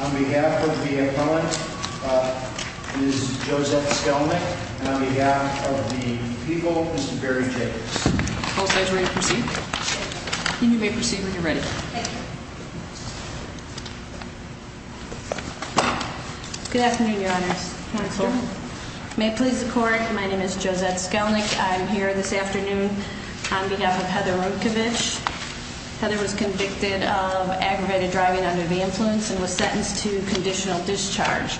On behalf of the appellant, Ms. Josette Skelman, and on behalf of the people, Mr. Barry Jacobs. All sides ready to proceed? And you may proceed when you're ready. Good afternoon, your honors. May it please the court, my name is Josette Skelman. I'm here this afternoon on behalf of Heather Rimkavich. Heather was convicted of aggravated driving under the influence and was sentenced to conditional discharge.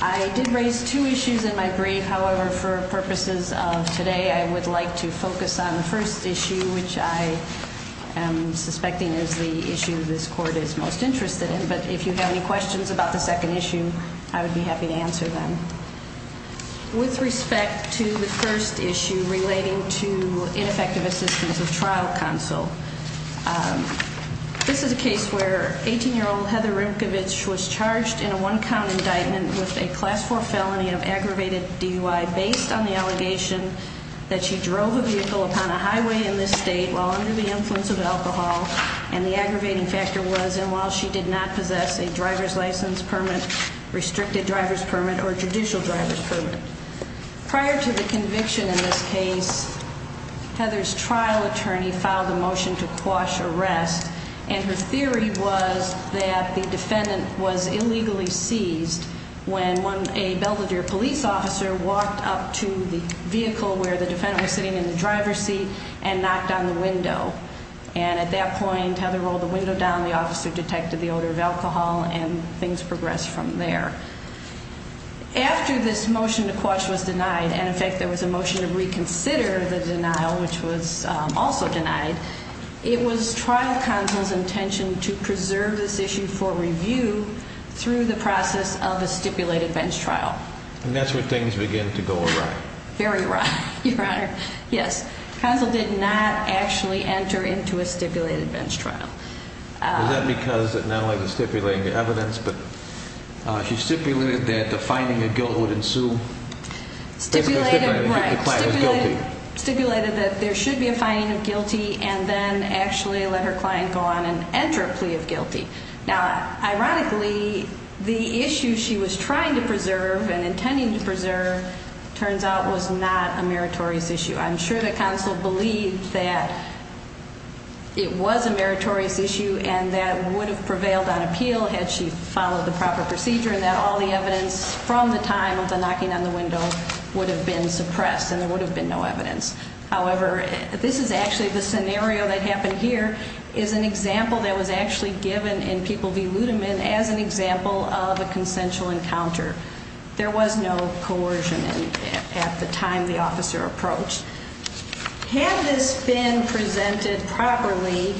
I did raise two issues in my brief. However, for purposes of today, I would like to focus on the first issue, which I am suspecting is the issue this court is most interested in. But if you have any questions about the second issue, I would be happy to answer them. With respect to the first issue relating to ineffective assistance of trial counsel, this is a case where 18-year-old Heather Rimkavich was charged in a one-count indictment with a class 4 felony of aggravated DUI based on the allegation that she drove a vehicle upon a highway in this state while under the influence of alcohol. And the aggravating factor was, and while she did not possess a driver's license permit, restricted driver's permit, or judicial driver's permit. Prior to the conviction in this case, Heather's trial attorney filed a motion to quash arrest. And her theory was that the defendant was illegally seized when a Belvedere police officer walked up to the vehicle where the defendant was sitting in the driver's seat and knocked on the window. And at that point, Heather rolled the window down, the officer detected the odor of alcohol, and things progressed from there. After this motion to quash was denied, and in fact, there was a motion to reconsider the denial, which was also denied, it was trial counsel's intention to preserve this issue for review through the process of a stipulated bench trial. And that's where things begin to go awry. Very awry, Your Honor. Yes. Counsel did not actually enter into a stipulated bench trial. Was that because not only was it stipulating the evidence, but she stipulated that the finding of guilt would ensue? Stipulated, right. Stipulated that there should be a finding of guilty, and then actually let her client go on and enter a plea of guilty. Now, ironically, the issue she was trying to preserve and intending to preserve turns out was not a meritorious issue. I'm sure that counsel believed that it was a meritorious issue and that it would have prevailed on appeal had she followed the proper procedure and that all the evidence from the time of the knocking on the window would have been suppressed and there would have been no evidence. However, this is actually the scenario that happened here is an example that was actually given in people v. Ludeman as an example of a consensual encounter. There was no coercion at the time the officer approached. Had this been presented properly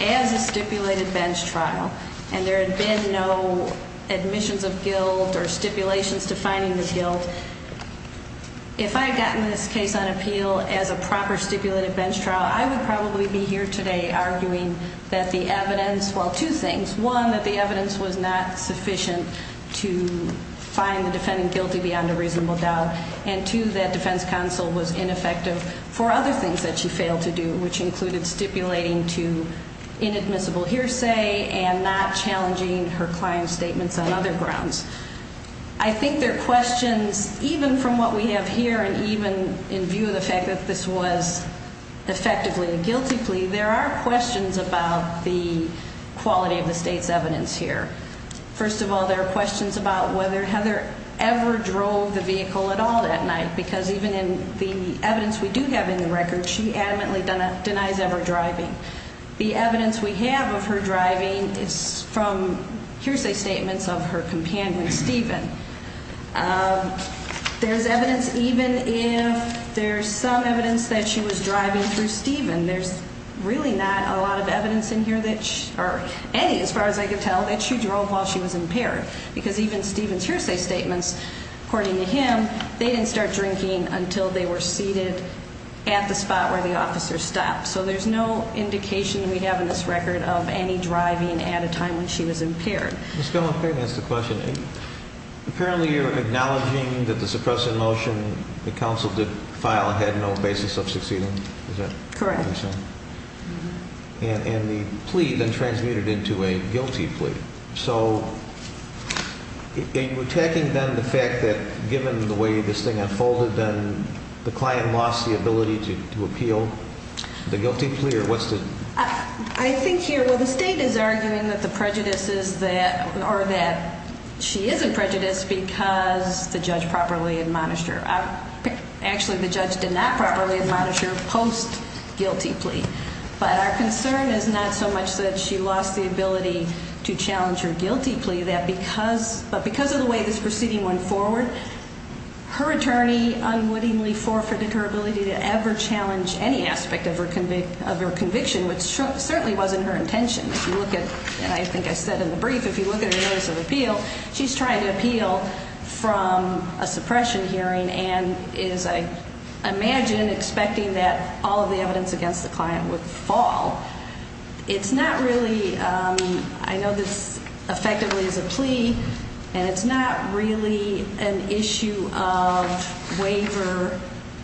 as a stipulated bench trial and there had been no admissions of guilt or stipulations defining the guilt, if I had gotten this case on appeal as a proper stipulated bench trial, I would probably be here today arguing that the evidence, well, two things. One, that the evidence was not sufficient to find the defendant guilty beyond a reasonable doubt. And two, that defense counsel was ineffective for other things that she failed to do, which included stipulating to inadmissible hearsay and not challenging her client's statements on other grounds. I think there are questions even from what we have here and even in view of the fact that this was effectively a guilty plea, there are questions about the quality of the state's evidence here. First of all, there are questions about whether Heather ever drove the vehicle at all that night because even in the evidence we do have in the record, she adamantly denies ever driving. The evidence we have of her driving is from hearsay statements of her companion, Stephen. There's evidence even if there's some evidence that she was driving through Stephen. There's really not a lot of evidence in here that she, or any as far as I could tell, that she drove while she was impaired because even Stephen's hearsay statements, according to him, they didn't start drinking until they were seated at the spot where the officer stopped. So there's no indication that we have in this record of any driving at a time when she was impaired. Ms. Gomez-Perry, that's the question. Apparently you're acknowledging that the suppressive motion the counsel did file had no basis of succeeding, is that what you're saying? Correct. And the plea then transmitted into a guilty plea. So are you attacking then the fact that given the way this thing unfolded, then the client lost the ability to appeal the guilty plea or what's the... I think here, well, the state is arguing that the prejudice is that, or that she is in prejudice because the judge properly admonished her. Actually, the judge did not properly admonish her post-guilty plea. But our concern is not so much that she lost the ability to challenge her guilty plea, but because of the way this proceeding went forward, her attorney unwittingly forfeited her ability to ever challenge any aspect of her conviction, which certainly wasn't her intention. If you look at, and I think I said in the brief, if you look at her notice of appeal, she's trying to appeal from a suppression hearing and is, I imagine, expecting that all of the evidence against the client would fall. It's not really, I know this effectively is a plea, and it's not really an issue of waiver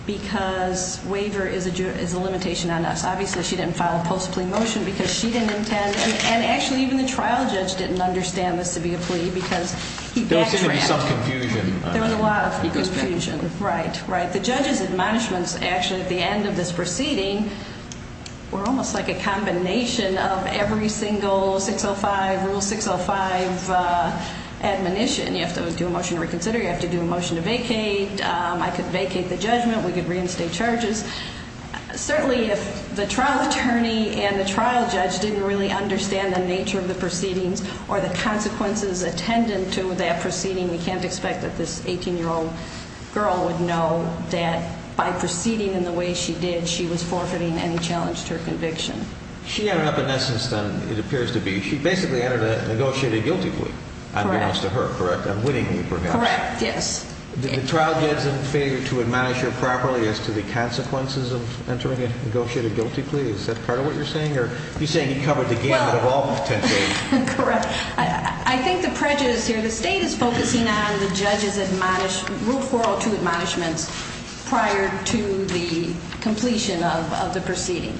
because waiver is a limitation on us. Obviously, she didn't file a post-plea motion because she didn't intend, and actually, even the trial judge didn't understand this to be a plea because he actually had... There was going to be some confusion. There was a lot of confusion, right, right. The judge's admonishments actually at the end of this proceeding were almost like a combination of every single 605, Rule 605 admonition. You have to do a motion to reconsider. You have to do a motion to vacate. I could vacate the judgment. We could reinstate charges. Certainly, if the trial attorney and the trial judge didn't really understand the nature of the proceedings or the consequences attendant to that proceeding, we can't expect that this 18-year-old girl would know that by proceeding in the way she did, she was forfeiting any challenge to her conviction. She ended up, in essence, then, it appears to be, she basically ended up negotiating a guilty plea. Correct. Unbeknownst to her, correct? Unwittingly, perhaps. Correct, yes. The trial judge is in favor to admonish her properly as to the consequences of entering a negotiated guilty plea. Is that part of what you're saying, or are you saying he covered the gamut of all potential? Correct. I think the prejudice here, the state is focusing on the judge's rule 402 admonishments prior to the completion of the proceeding.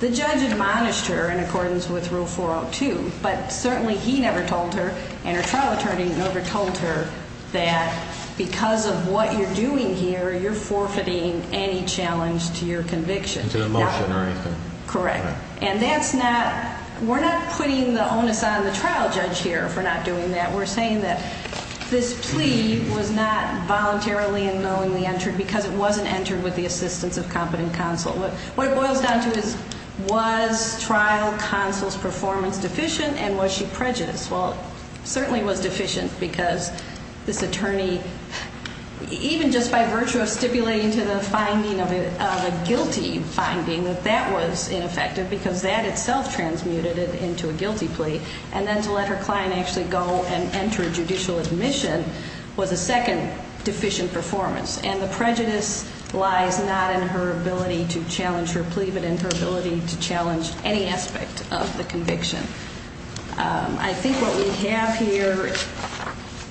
The judge admonished her in accordance with rule 402, but certainly he never told her and her trial attorney never told her that because of what you're doing here, you're forfeiting any challenge to your conviction. To the motion or anything. Correct. And that's not, we're not putting the onus on the trial judge here for not doing that. We're saying that this plea was not voluntarily and knowingly entered because it wasn't entered with the assistance of competent counsel. What it boils down to is, was trial counsel's performance deficient and was she prejudiced? Well, it certainly was deficient because this attorney, even just by virtue of stipulating to the finding of a guilty finding, that that was ineffective because that itself transmuted it into a guilty plea. And then to let her client actually go and enter judicial admission was a second deficient performance. And the prejudice lies not in her ability to challenge her plea, but in her ability to challenge any aspect of the conviction. I think what we have here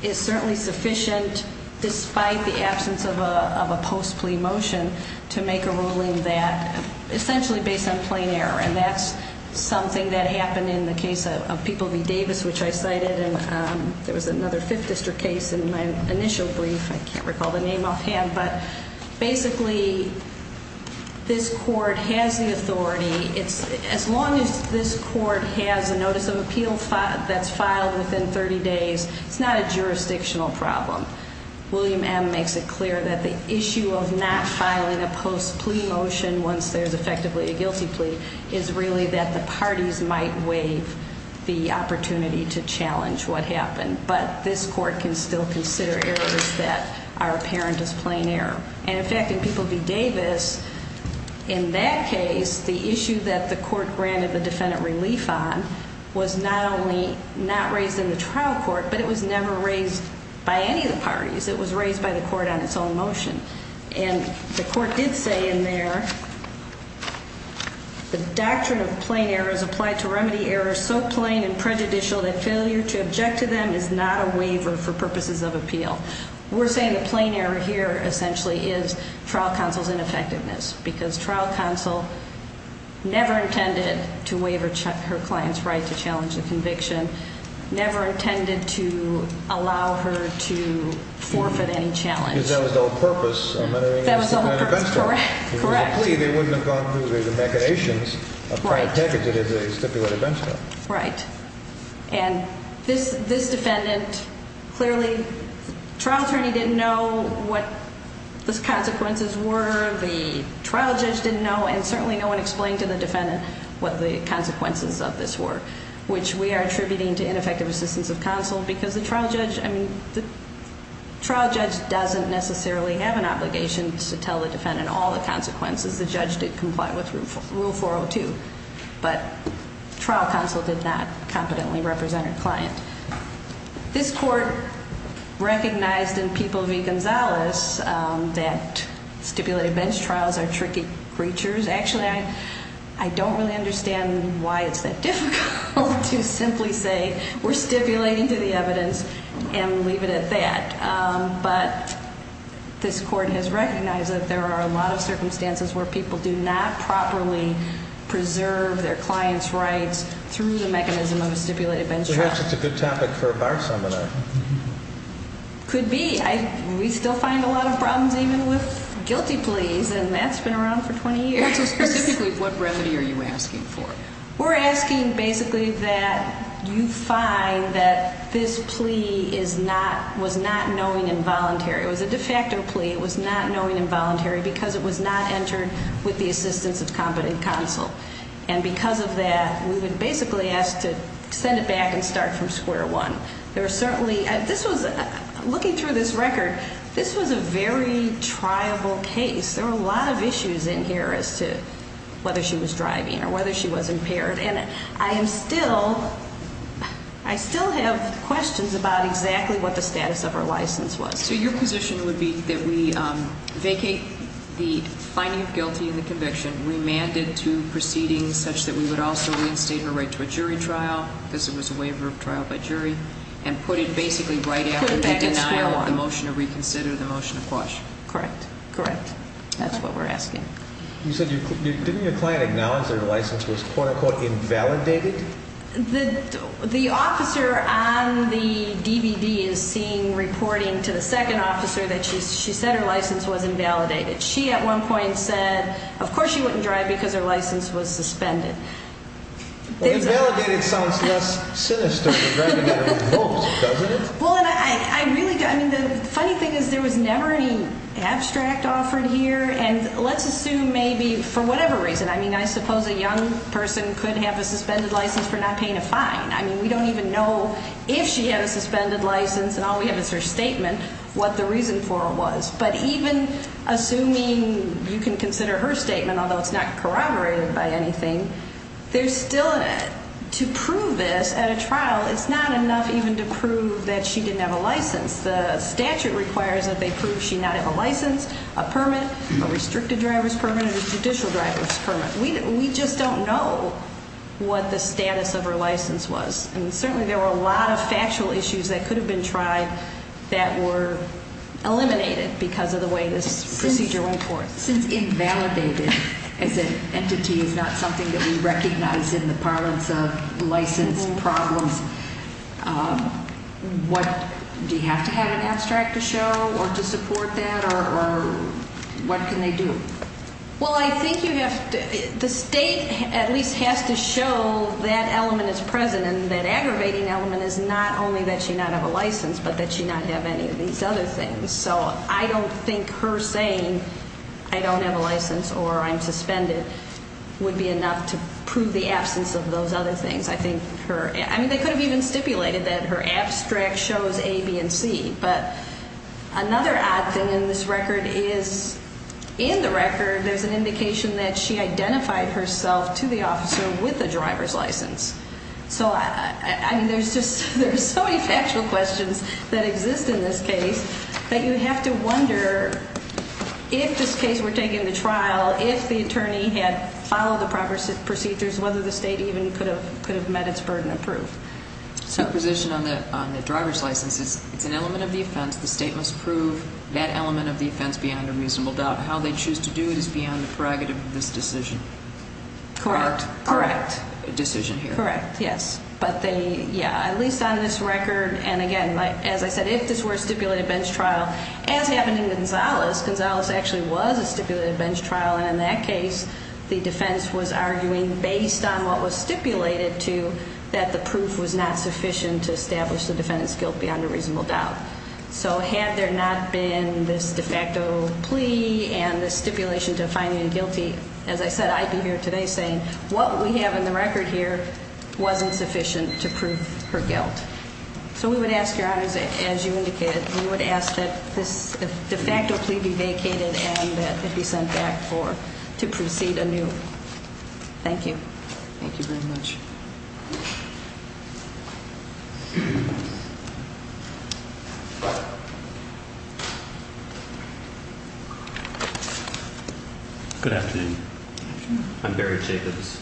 is certainly sufficient, despite the absence of a post plea motion, to make a ruling that essentially based on plain error. And that's something that happened in the case of People v. Davis, which I cited. And there was another fifth district case in my initial brief, I can't recall the name offhand. But basically, this court has the authority. As long as this court has a notice of appeal that's filed within 30 days, it's not a jurisdictional problem. William M makes it clear that the issue of not filing a post plea motion once there's effectively a guilty plea is really that the parties might waive the opportunity to challenge what happened. But this court can still consider errors that are apparent as plain error. And in fact, in People v. Davis, in that case, the issue that the court granted the defendant relief on was not only not raised in the trial court, but it was never raised by any of the parties. It was raised by the court on its own motion. And the court did say in there, the doctrine of plain error is applied to remedy errors so plain and prejudicial that failure to object to them is not a waiver for purposes of appeal. We're saying the plain error here essentially is trial counsel's ineffectiveness because trial counsel never intended to waive her client's right to challenge the conviction, never intended to allow her to forfeit any challenge. Because that was the whole purpose of entering into a stipulated bench trial. Correct. If it was a plea, they wouldn't have gone through the machinations of trying to package it into a stipulated bench trial. Right. And this defendant clearly, the trial attorney didn't know what the consequences were, the trial judge didn't know, and certainly no one explained to the defendant what the consequences of this were, which we are attributing to ineffective assistance of counsel because the trial judge doesn't necessarily have an obligation to tell the defendant all the consequences. The judge did comply with Rule 402, but trial counsel did not competently represent her client. This court recognized in People v. Gonzales that stipulated bench trials are tricky creatures. Actually, I don't really understand why it's that difficult to simply say we're stipulating to the evidence and leave it at that. But this court has recognized that there are a lot of circumstances where people do not properly preserve their client's rights through the mechanism of a stipulated bench trial. It's a good topic for a bar seminar. Could be. We still find a lot of problems even with guilty pleas, and that's been around for 20 years. So specifically, what remedy are you asking for? We're asking basically that you find that this plea was not knowing and voluntary. It was a de facto plea. It was not knowing and voluntary because it was not entered with the assistance of competent counsel. And because of that, we've been basically asked to send it back and start from square one. Looking through this record, this was a very triable case. There were a lot of issues in here as to whether she was driving or whether she was impaired. And I still have questions about exactly what the status of her license was. So your position would be that we vacate the finding of guilty and the conviction, remand it to proceedings such that we would also reinstate her right to a jury trial because it was a waiver of trial by jury, and put it basically right after the denial of the motion of reconsider, the motion of quash. Correct. Correct. That's what we're asking. You said didn't your client acknowledge that her license was quote-unquote invalidated? The officer on the DVD is seeing reporting to the second officer that she said her license was invalidated. She at one point said, of course she wouldn't drive because her license was suspended. Invalidated sounds less sinister than driving at a remote, doesn't it? The funny thing is there was never any abstract offered here, and let's assume maybe for whatever reason. I mean, I suppose a young person could have a suspended license for not paying a fine. I mean, we don't even know if she had a suspended license, and all we have is her statement, what the reason for it was. But even assuming you can consider her statement, although it's not corroborated by anything, there's still in it. To prove this at a trial is not enough even to prove that she didn't have a license. The statute requires that they prove she not have a license, a permit, a restricted driver's permit, and a judicial driver's permit. We just don't know what the status of her license was. And certainly there were a lot of factual issues that could have been tried that were eliminated because of the way this procedure went forth. Since invalidated as an entity is not something that we recognize in the parlance of license problems, do you have to have an abstract to show or to support that, or what can they do? Well, I think you have to, the state at least has to show that element is present, and that aggravating element is not only that she not have a license, but that she not have any of these other things. So I don't think her saying, I don't have a license or I'm suspended, would be enough to prove the absence of those other things. I mean, they could have even stipulated that her abstract shows A, B, and C. But another odd thing in this record is in the record there's an indication that she identified herself to the officer with a driver's license. So, I mean, there's so many factual questions that exist in this case that you have to wonder if this case were taken to trial, if the attorney had followed the proper procedures, whether the state even could have met its burden of proof. The position on the driver's license is it's an element of the offense. The state must prove that element of the offense beyond a reasonable doubt. How they choose to do it is beyond the prerogative of this decision. Correct, correct. Correct, yes. But they, yeah, at least on this record, and again, as I said, if this were a stipulated bench trial, as happened in Gonzalez, Gonzalez actually was a stipulated bench trial, and in that case the defense was arguing based on what was stipulated to that the proof was not sufficient to establish the defendant's guilt beyond a reasonable doubt. So had there not been this de facto plea and the stipulation to finding him guilty, as I said, I'd be here today saying what we have in the record here wasn't sufficient to prove her guilt. So we would ask your honors, as you indicated, we would ask that this de facto plea be vacated and that it be sent back to proceed anew. Thank you. Thank you very much. Good afternoon. I'm Barry Jacobs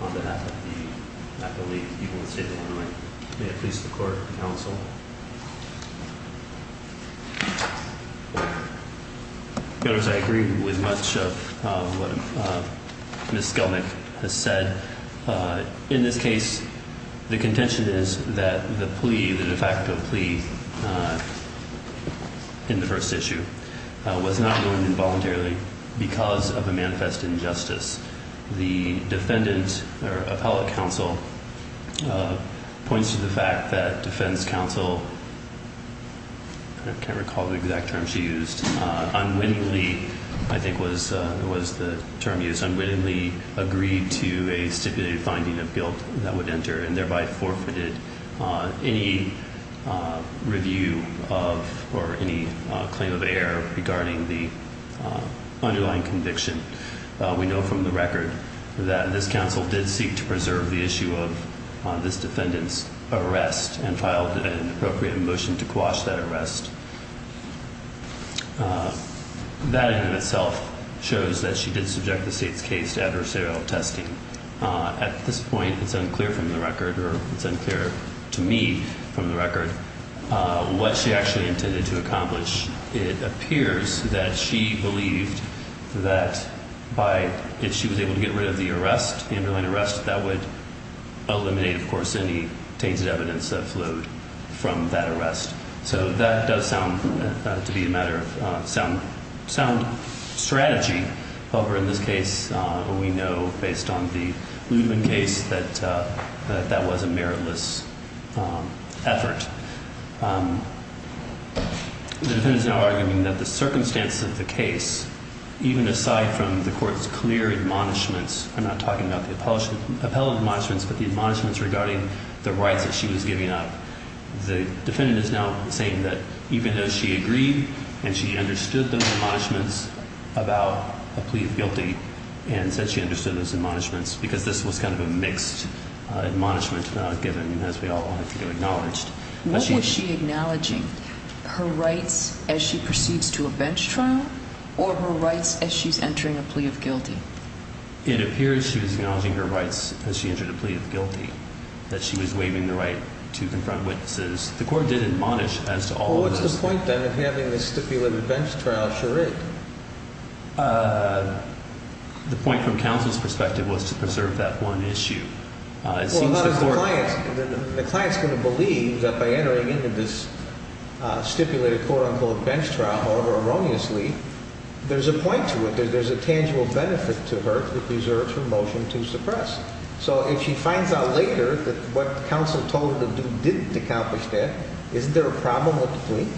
on behalf of the, I believe, the people of the state of Illinois. May it please the court and counsel. Your honors, I agree with much of what Ms. Skelnick has said. In this case, the contention is that the plea, the de facto plea in the first issue, was not going involuntarily because of a manifest injustice. The defendant or appellate counsel points to the fact that defense counsel, I can't recall the exact term she used, unwittingly, I think was the term used, unwittingly agreed to a stipulated finding of guilt that would enter and thereby forfeited any review of or any claim of error regarding the underlying conviction. We know from the record that this counsel did seek to preserve the issue of this defendant's arrest and filed an appropriate motion to quash that arrest. That in and of itself shows that she did subject the state's case to adversarial testing. At this point, it's unclear from the record, or it's unclear to me from the record, what she actually intended to accomplish. It appears that she believed that if she was able to get rid of the arrest, the underlying arrest, that would eliminate, of course, any tainted evidence that flowed from that arrest. So that does sound to be a matter of sound strategy. However, in this case, we know based on the Ludman case that that was a meritless effort. The defendant is now arguing that the circumstances of the case, even aside from the court's clear admonishments, I'm not talking about the appellate admonishments, but the admonishments regarding the rights that she was giving up, the defendant is now saying that even though she agreed and she understood the admonishments about a plea of guilty and said she understood those admonishments because this was kind of a mixed admonishment given, as we all have to acknowledge. What was she acknowledging, her rights as she proceeds to a bench trial or her rights as she's entering a plea of guilty? It appears she was acknowledging her rights as she entered a plea of guilty, that she was waiving the right to confront witnesses. The court did admonish as to all of those things. Well, what's the point, then, of having a stipulated bench trial? The point from counsel's perspective was to preserve that one issue. Well, the client's going to believe that by entering into this stipulated, quote-unquote, bench trial, however erroneously, there's a point to it, there's a tangible benefit to her that deserves her motion to suppress. So if she finds out later that what counsel told her to do didn't accomplish that, isn't there a problem with the plea?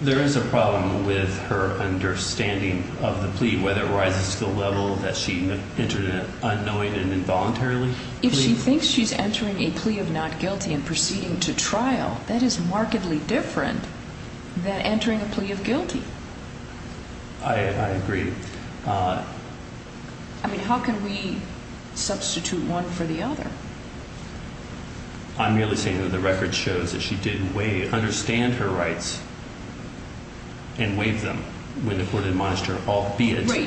There is a problem with her understanding of the plea, whether it rises to the level that she entered it unknowingly and involuntarily. If she thinks she's entering a plea of not guilty and proceeding to trial, that is markedly different than entering a plea of guilty. I agree. I mean, how can we substitute one for the other? I'm merely saying that the record shows that she did understand her rights and waived them when the court admonished her, albeit incorrectly.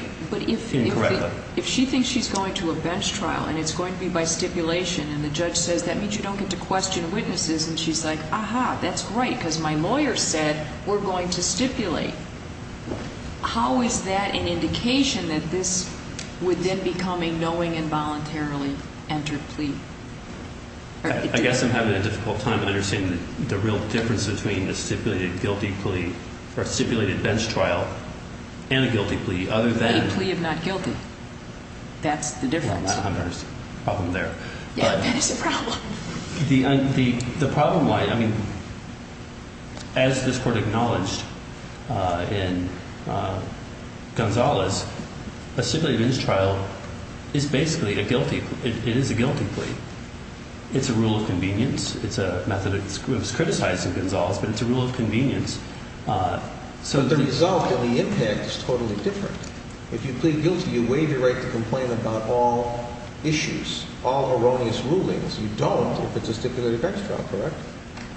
Right, but if she thinks she's going to a bench trial and it's going to be by stipulation, and the judge says that means you don't get to question witnesses, and she's like, aha, that's great, because my lawyer said we're going to stipulate. How is that an indication that this would then become a knowing involuntarily entered plea? I guess I'm having a difficult time understanding the real difference between a stipulated guilty plea or a stipulated bench trial and a guilty plea, other than. A plea of not guilty. That's the difference. I don't understand the problem there. Yeah, that is the problem. The problem, I mean, as this Court acknowledged in Gonzales, a stipulated bench trial is basically a guilty plea. It is a guilty plea. It's a rule of convenience. It's a method of criticizing Gonzales, but it's a rule of convenience. But the result and the impact is totally different. If you plead guilty, you waive your right to complain about all issues, all erroneous rulings. You don't if it's a stipulated bench trial, correct?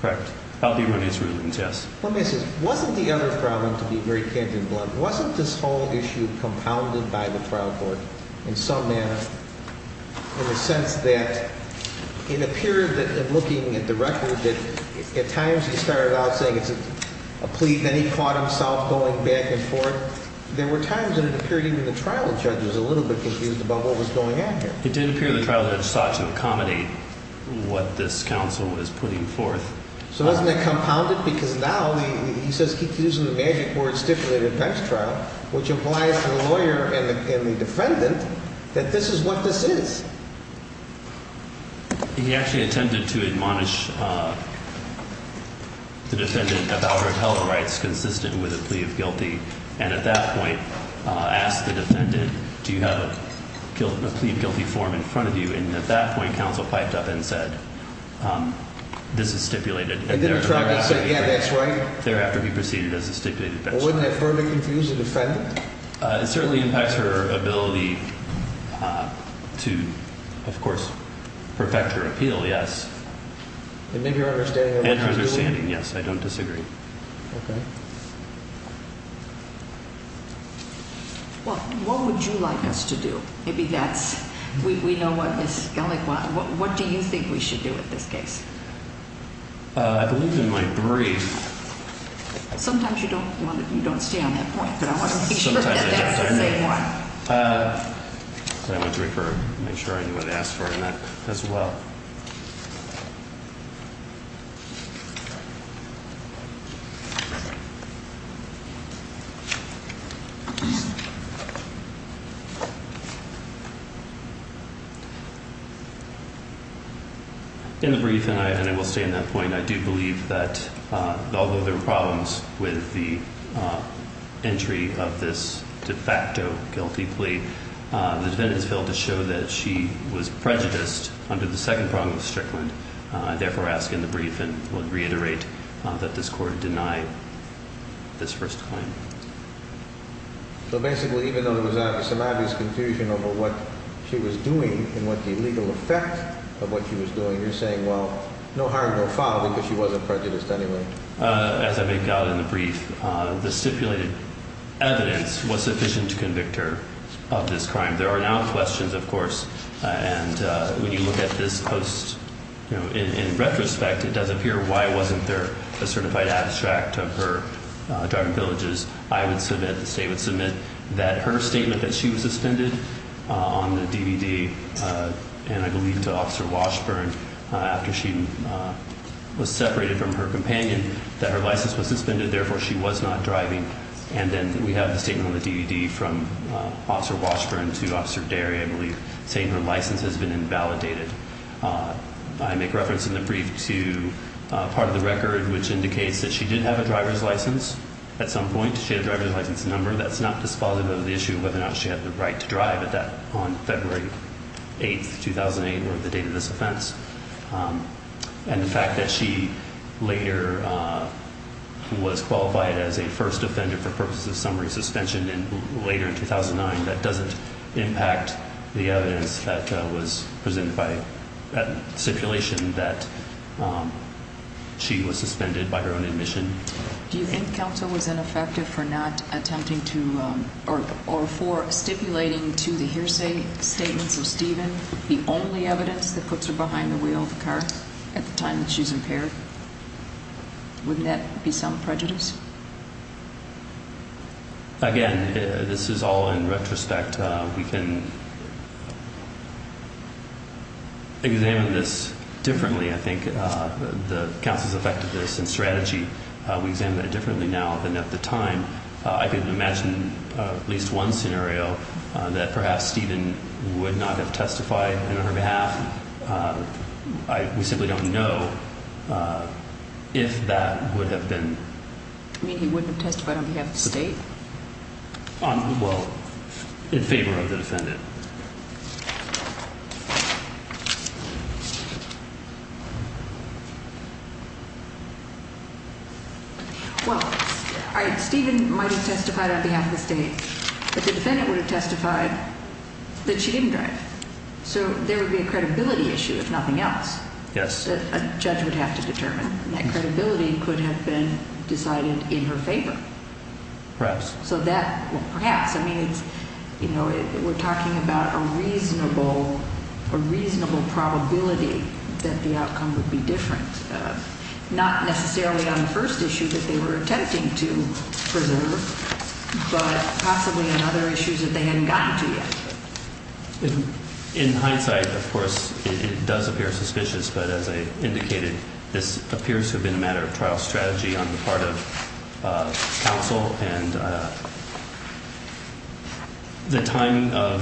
Correct. All the erroneous rulings, yes. Let me ask you this. Wasn't the other problem, to be very candid and blunt, wasn't this whole issue compounded by the trial court in some manner in the sense that in a period in looking at the record, at times he started out saying it's a plea, then he caught himself going back and forth. There were times that it appeared even the trial judge was a little bit confused about what was going on here. It didn't appear the trial judge sought to accommodate what this counsel was putting forth. So wasn't that compounded? Because now he says keep using the magic word stipulated bench trial, which implies to the lawyer and the defendant that this is what this is. He actually attempted to admonish the defendant about her appellate rights consistent with a plea of guilty. And at that point asked the defendant, do you have a plea of guilty form in front of you? And at that point, counsel piped up and said, this is stipulated. And then the trial judge said, yeah, that's right. Thereafter, he proceeded as a stipulated bench trial. Wouldn't that further confuse the defendant? It certainly impacts her ability to, of course, perfect her appeal. Yes. And make her understanding of what she was doing? And her understanding, yes. I don't disagree. OK. Well, what would you like us to do? Maybe that's, we know what Ms. Gellick wants. What do you think we should do in this case? I believe in my brief. Sometimes you don't want to, you don't stay on that point. But I want to make sure that that's the same one. I want to make sure I know what to ask for in that as well. Thank you. In the brief, and I will stay on that point, I do believe that although there were problems with the entry of this de facto guilty plea, the defendant has failed to show that she was prejudiced under the second prong of Strickland. Therefore, I ask in the brief and would reiterate that this court deny this first claim. So basically, even though there was some obvious confusion over what she was doing and what the legal effect of what she was doing, you're saying, well, no harm, no foul, because she wasn't prejudiced anyway. As I make out in the brief, the stipulated evidence was sufficient to convict her of this crime. There are now questions, of course, and when you look at this post, in retrospect, it does appear why wasn't there a certified abstract of her drug and pillages? I would submit, the state would submit, that her statement that she was suspended on the DVD, and I believe to Officer Washburn after she was separated from her companion, that her license was suspended, therefore she was not driving. And then we have the statement on the DVD from Officer Washburn to Officer Derry, I believe, saying her license has been invalidated. I make reference in the brief to part of the record which indicates that she did have a driver's license at some point. She had a driver's license number. That's not dispositive of the issue of whether or not she had the right to drive at that on February 8, 2008, or the date of this offense. And the fact that she later was qualified as a first offender for purposes of summary suspension later in 2009, that doesn't impact the evidence that was presented by stipulation that she was suspended by her own admission. Do you think counsel was ineffective for not attempting to, or for stipulating to the hearsay statements of Stephen the only evidence that puts her behind the wheel of the car at the time that she's impaired? Wouldn't that be some prejudice? Again, this is all in retrospect. We can examine this differently. I think the counsel's effectiveness and strategy, we examine it differently now than at the time. I can imagine at least one scenario that perhaps Stephen would not have testified on her behalf. We simply don't know if that would have been. You mean he wouldn't have testified on behalf of the state? Well, in favor of the defendant. Well, Stephen might have testified on behalf of the state, but the defendant would have testified that she didn't drive. So there would be a credibility issue, if nothing else, that a judge would have to determine. And that credibility could have been decided in her favor. Perhaps. Perhaps. We're talking about a reasonable probability that the outcome would be different. Not necessarily on the first issue that they were attempting to preserve, but possibly on other issues that they hadn't gotten to yet. In hindsight, of course, it does appear suspicious, but as I indicated, this appears to have been a matter of trial strategy on the part of counsel. And the timing of,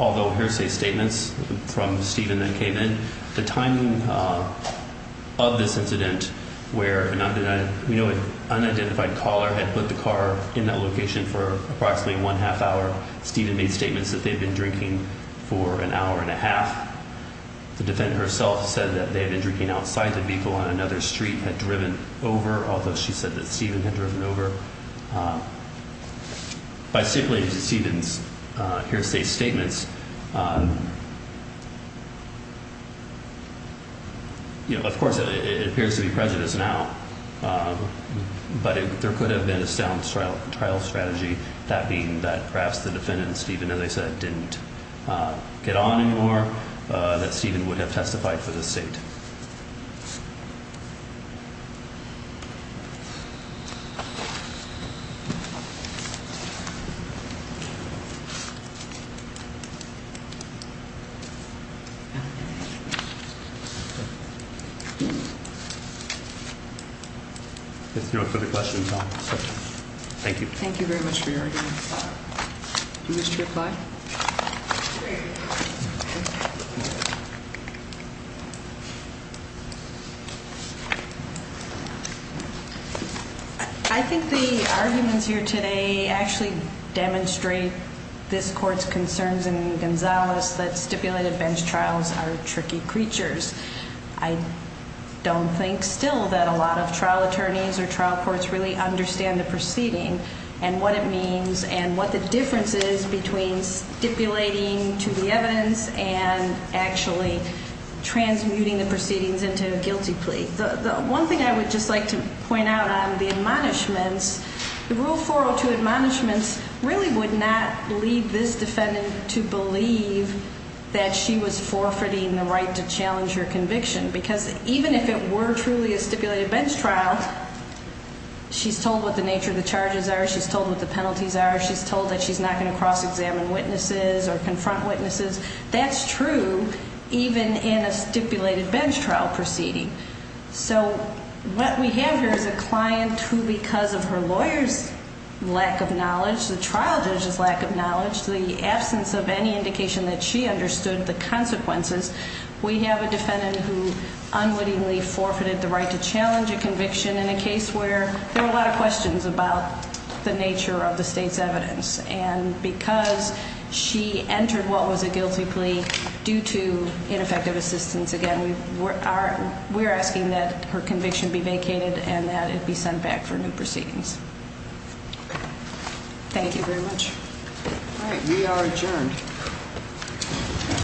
although hearsay statements from Stephen that came in, the timing of this incident where an unidentified caller had put the car in that location for approximately one half hour, Stephen made statements that they had been drinking for an hour and a half. The defendant herself said that they had been drinking outside the vehicle on another street and had driven over, although she said that Stephen had driven over. By stipulating to Stephen's hearsay statements, you know, of course, it appears to be prejudice now. But there could have been a sound trial strategy, that being that perhaps the defendant and Stephen, as I said, didn't get on anymore. That Stephen would have testified for the state. Thank you. Thank you very much for your argument. Do you wish to reply? No. I think the arguments here today actually demonstrate this court's concerns in Gonzales that stipulated bench trials are tricky creatures. I don't think still that a lot of trial attorneys or trial courts really understand the proceeding and what it means and what the difference is between stipulating to the evidence and actually transmuting the proceedings into a guilty plea. The one thing I would just like to point out on the admonishments, the Rule 402 admonishments really would not lead this defendant to believe that she was forfeiting the right to challenge her conviction. Because even if it were truly a stipulated bench trial, she's told what the nature of the charges are, she's told what the penalties are, she's told that she's not going to cross-examine witnesses or confront witnesses. That's true even in a stipulated bench trial proceeding. So what we have here is a client who, because of her lawyer's lack of knowledge, the trial judge's lack of knowledge, the absence of any indication that she understood the consequences, we have a defendant who unwittingly forfeited the right to challenge a conviction in a case where there are a lot of questions about the nature of the state's evidence. And because she entered what was a guilty plea due to ineffective assistance, again, we're asking that her conviction be vacated and that it be sent back for new proceedings. Thank you very much. All right. We are adjourned.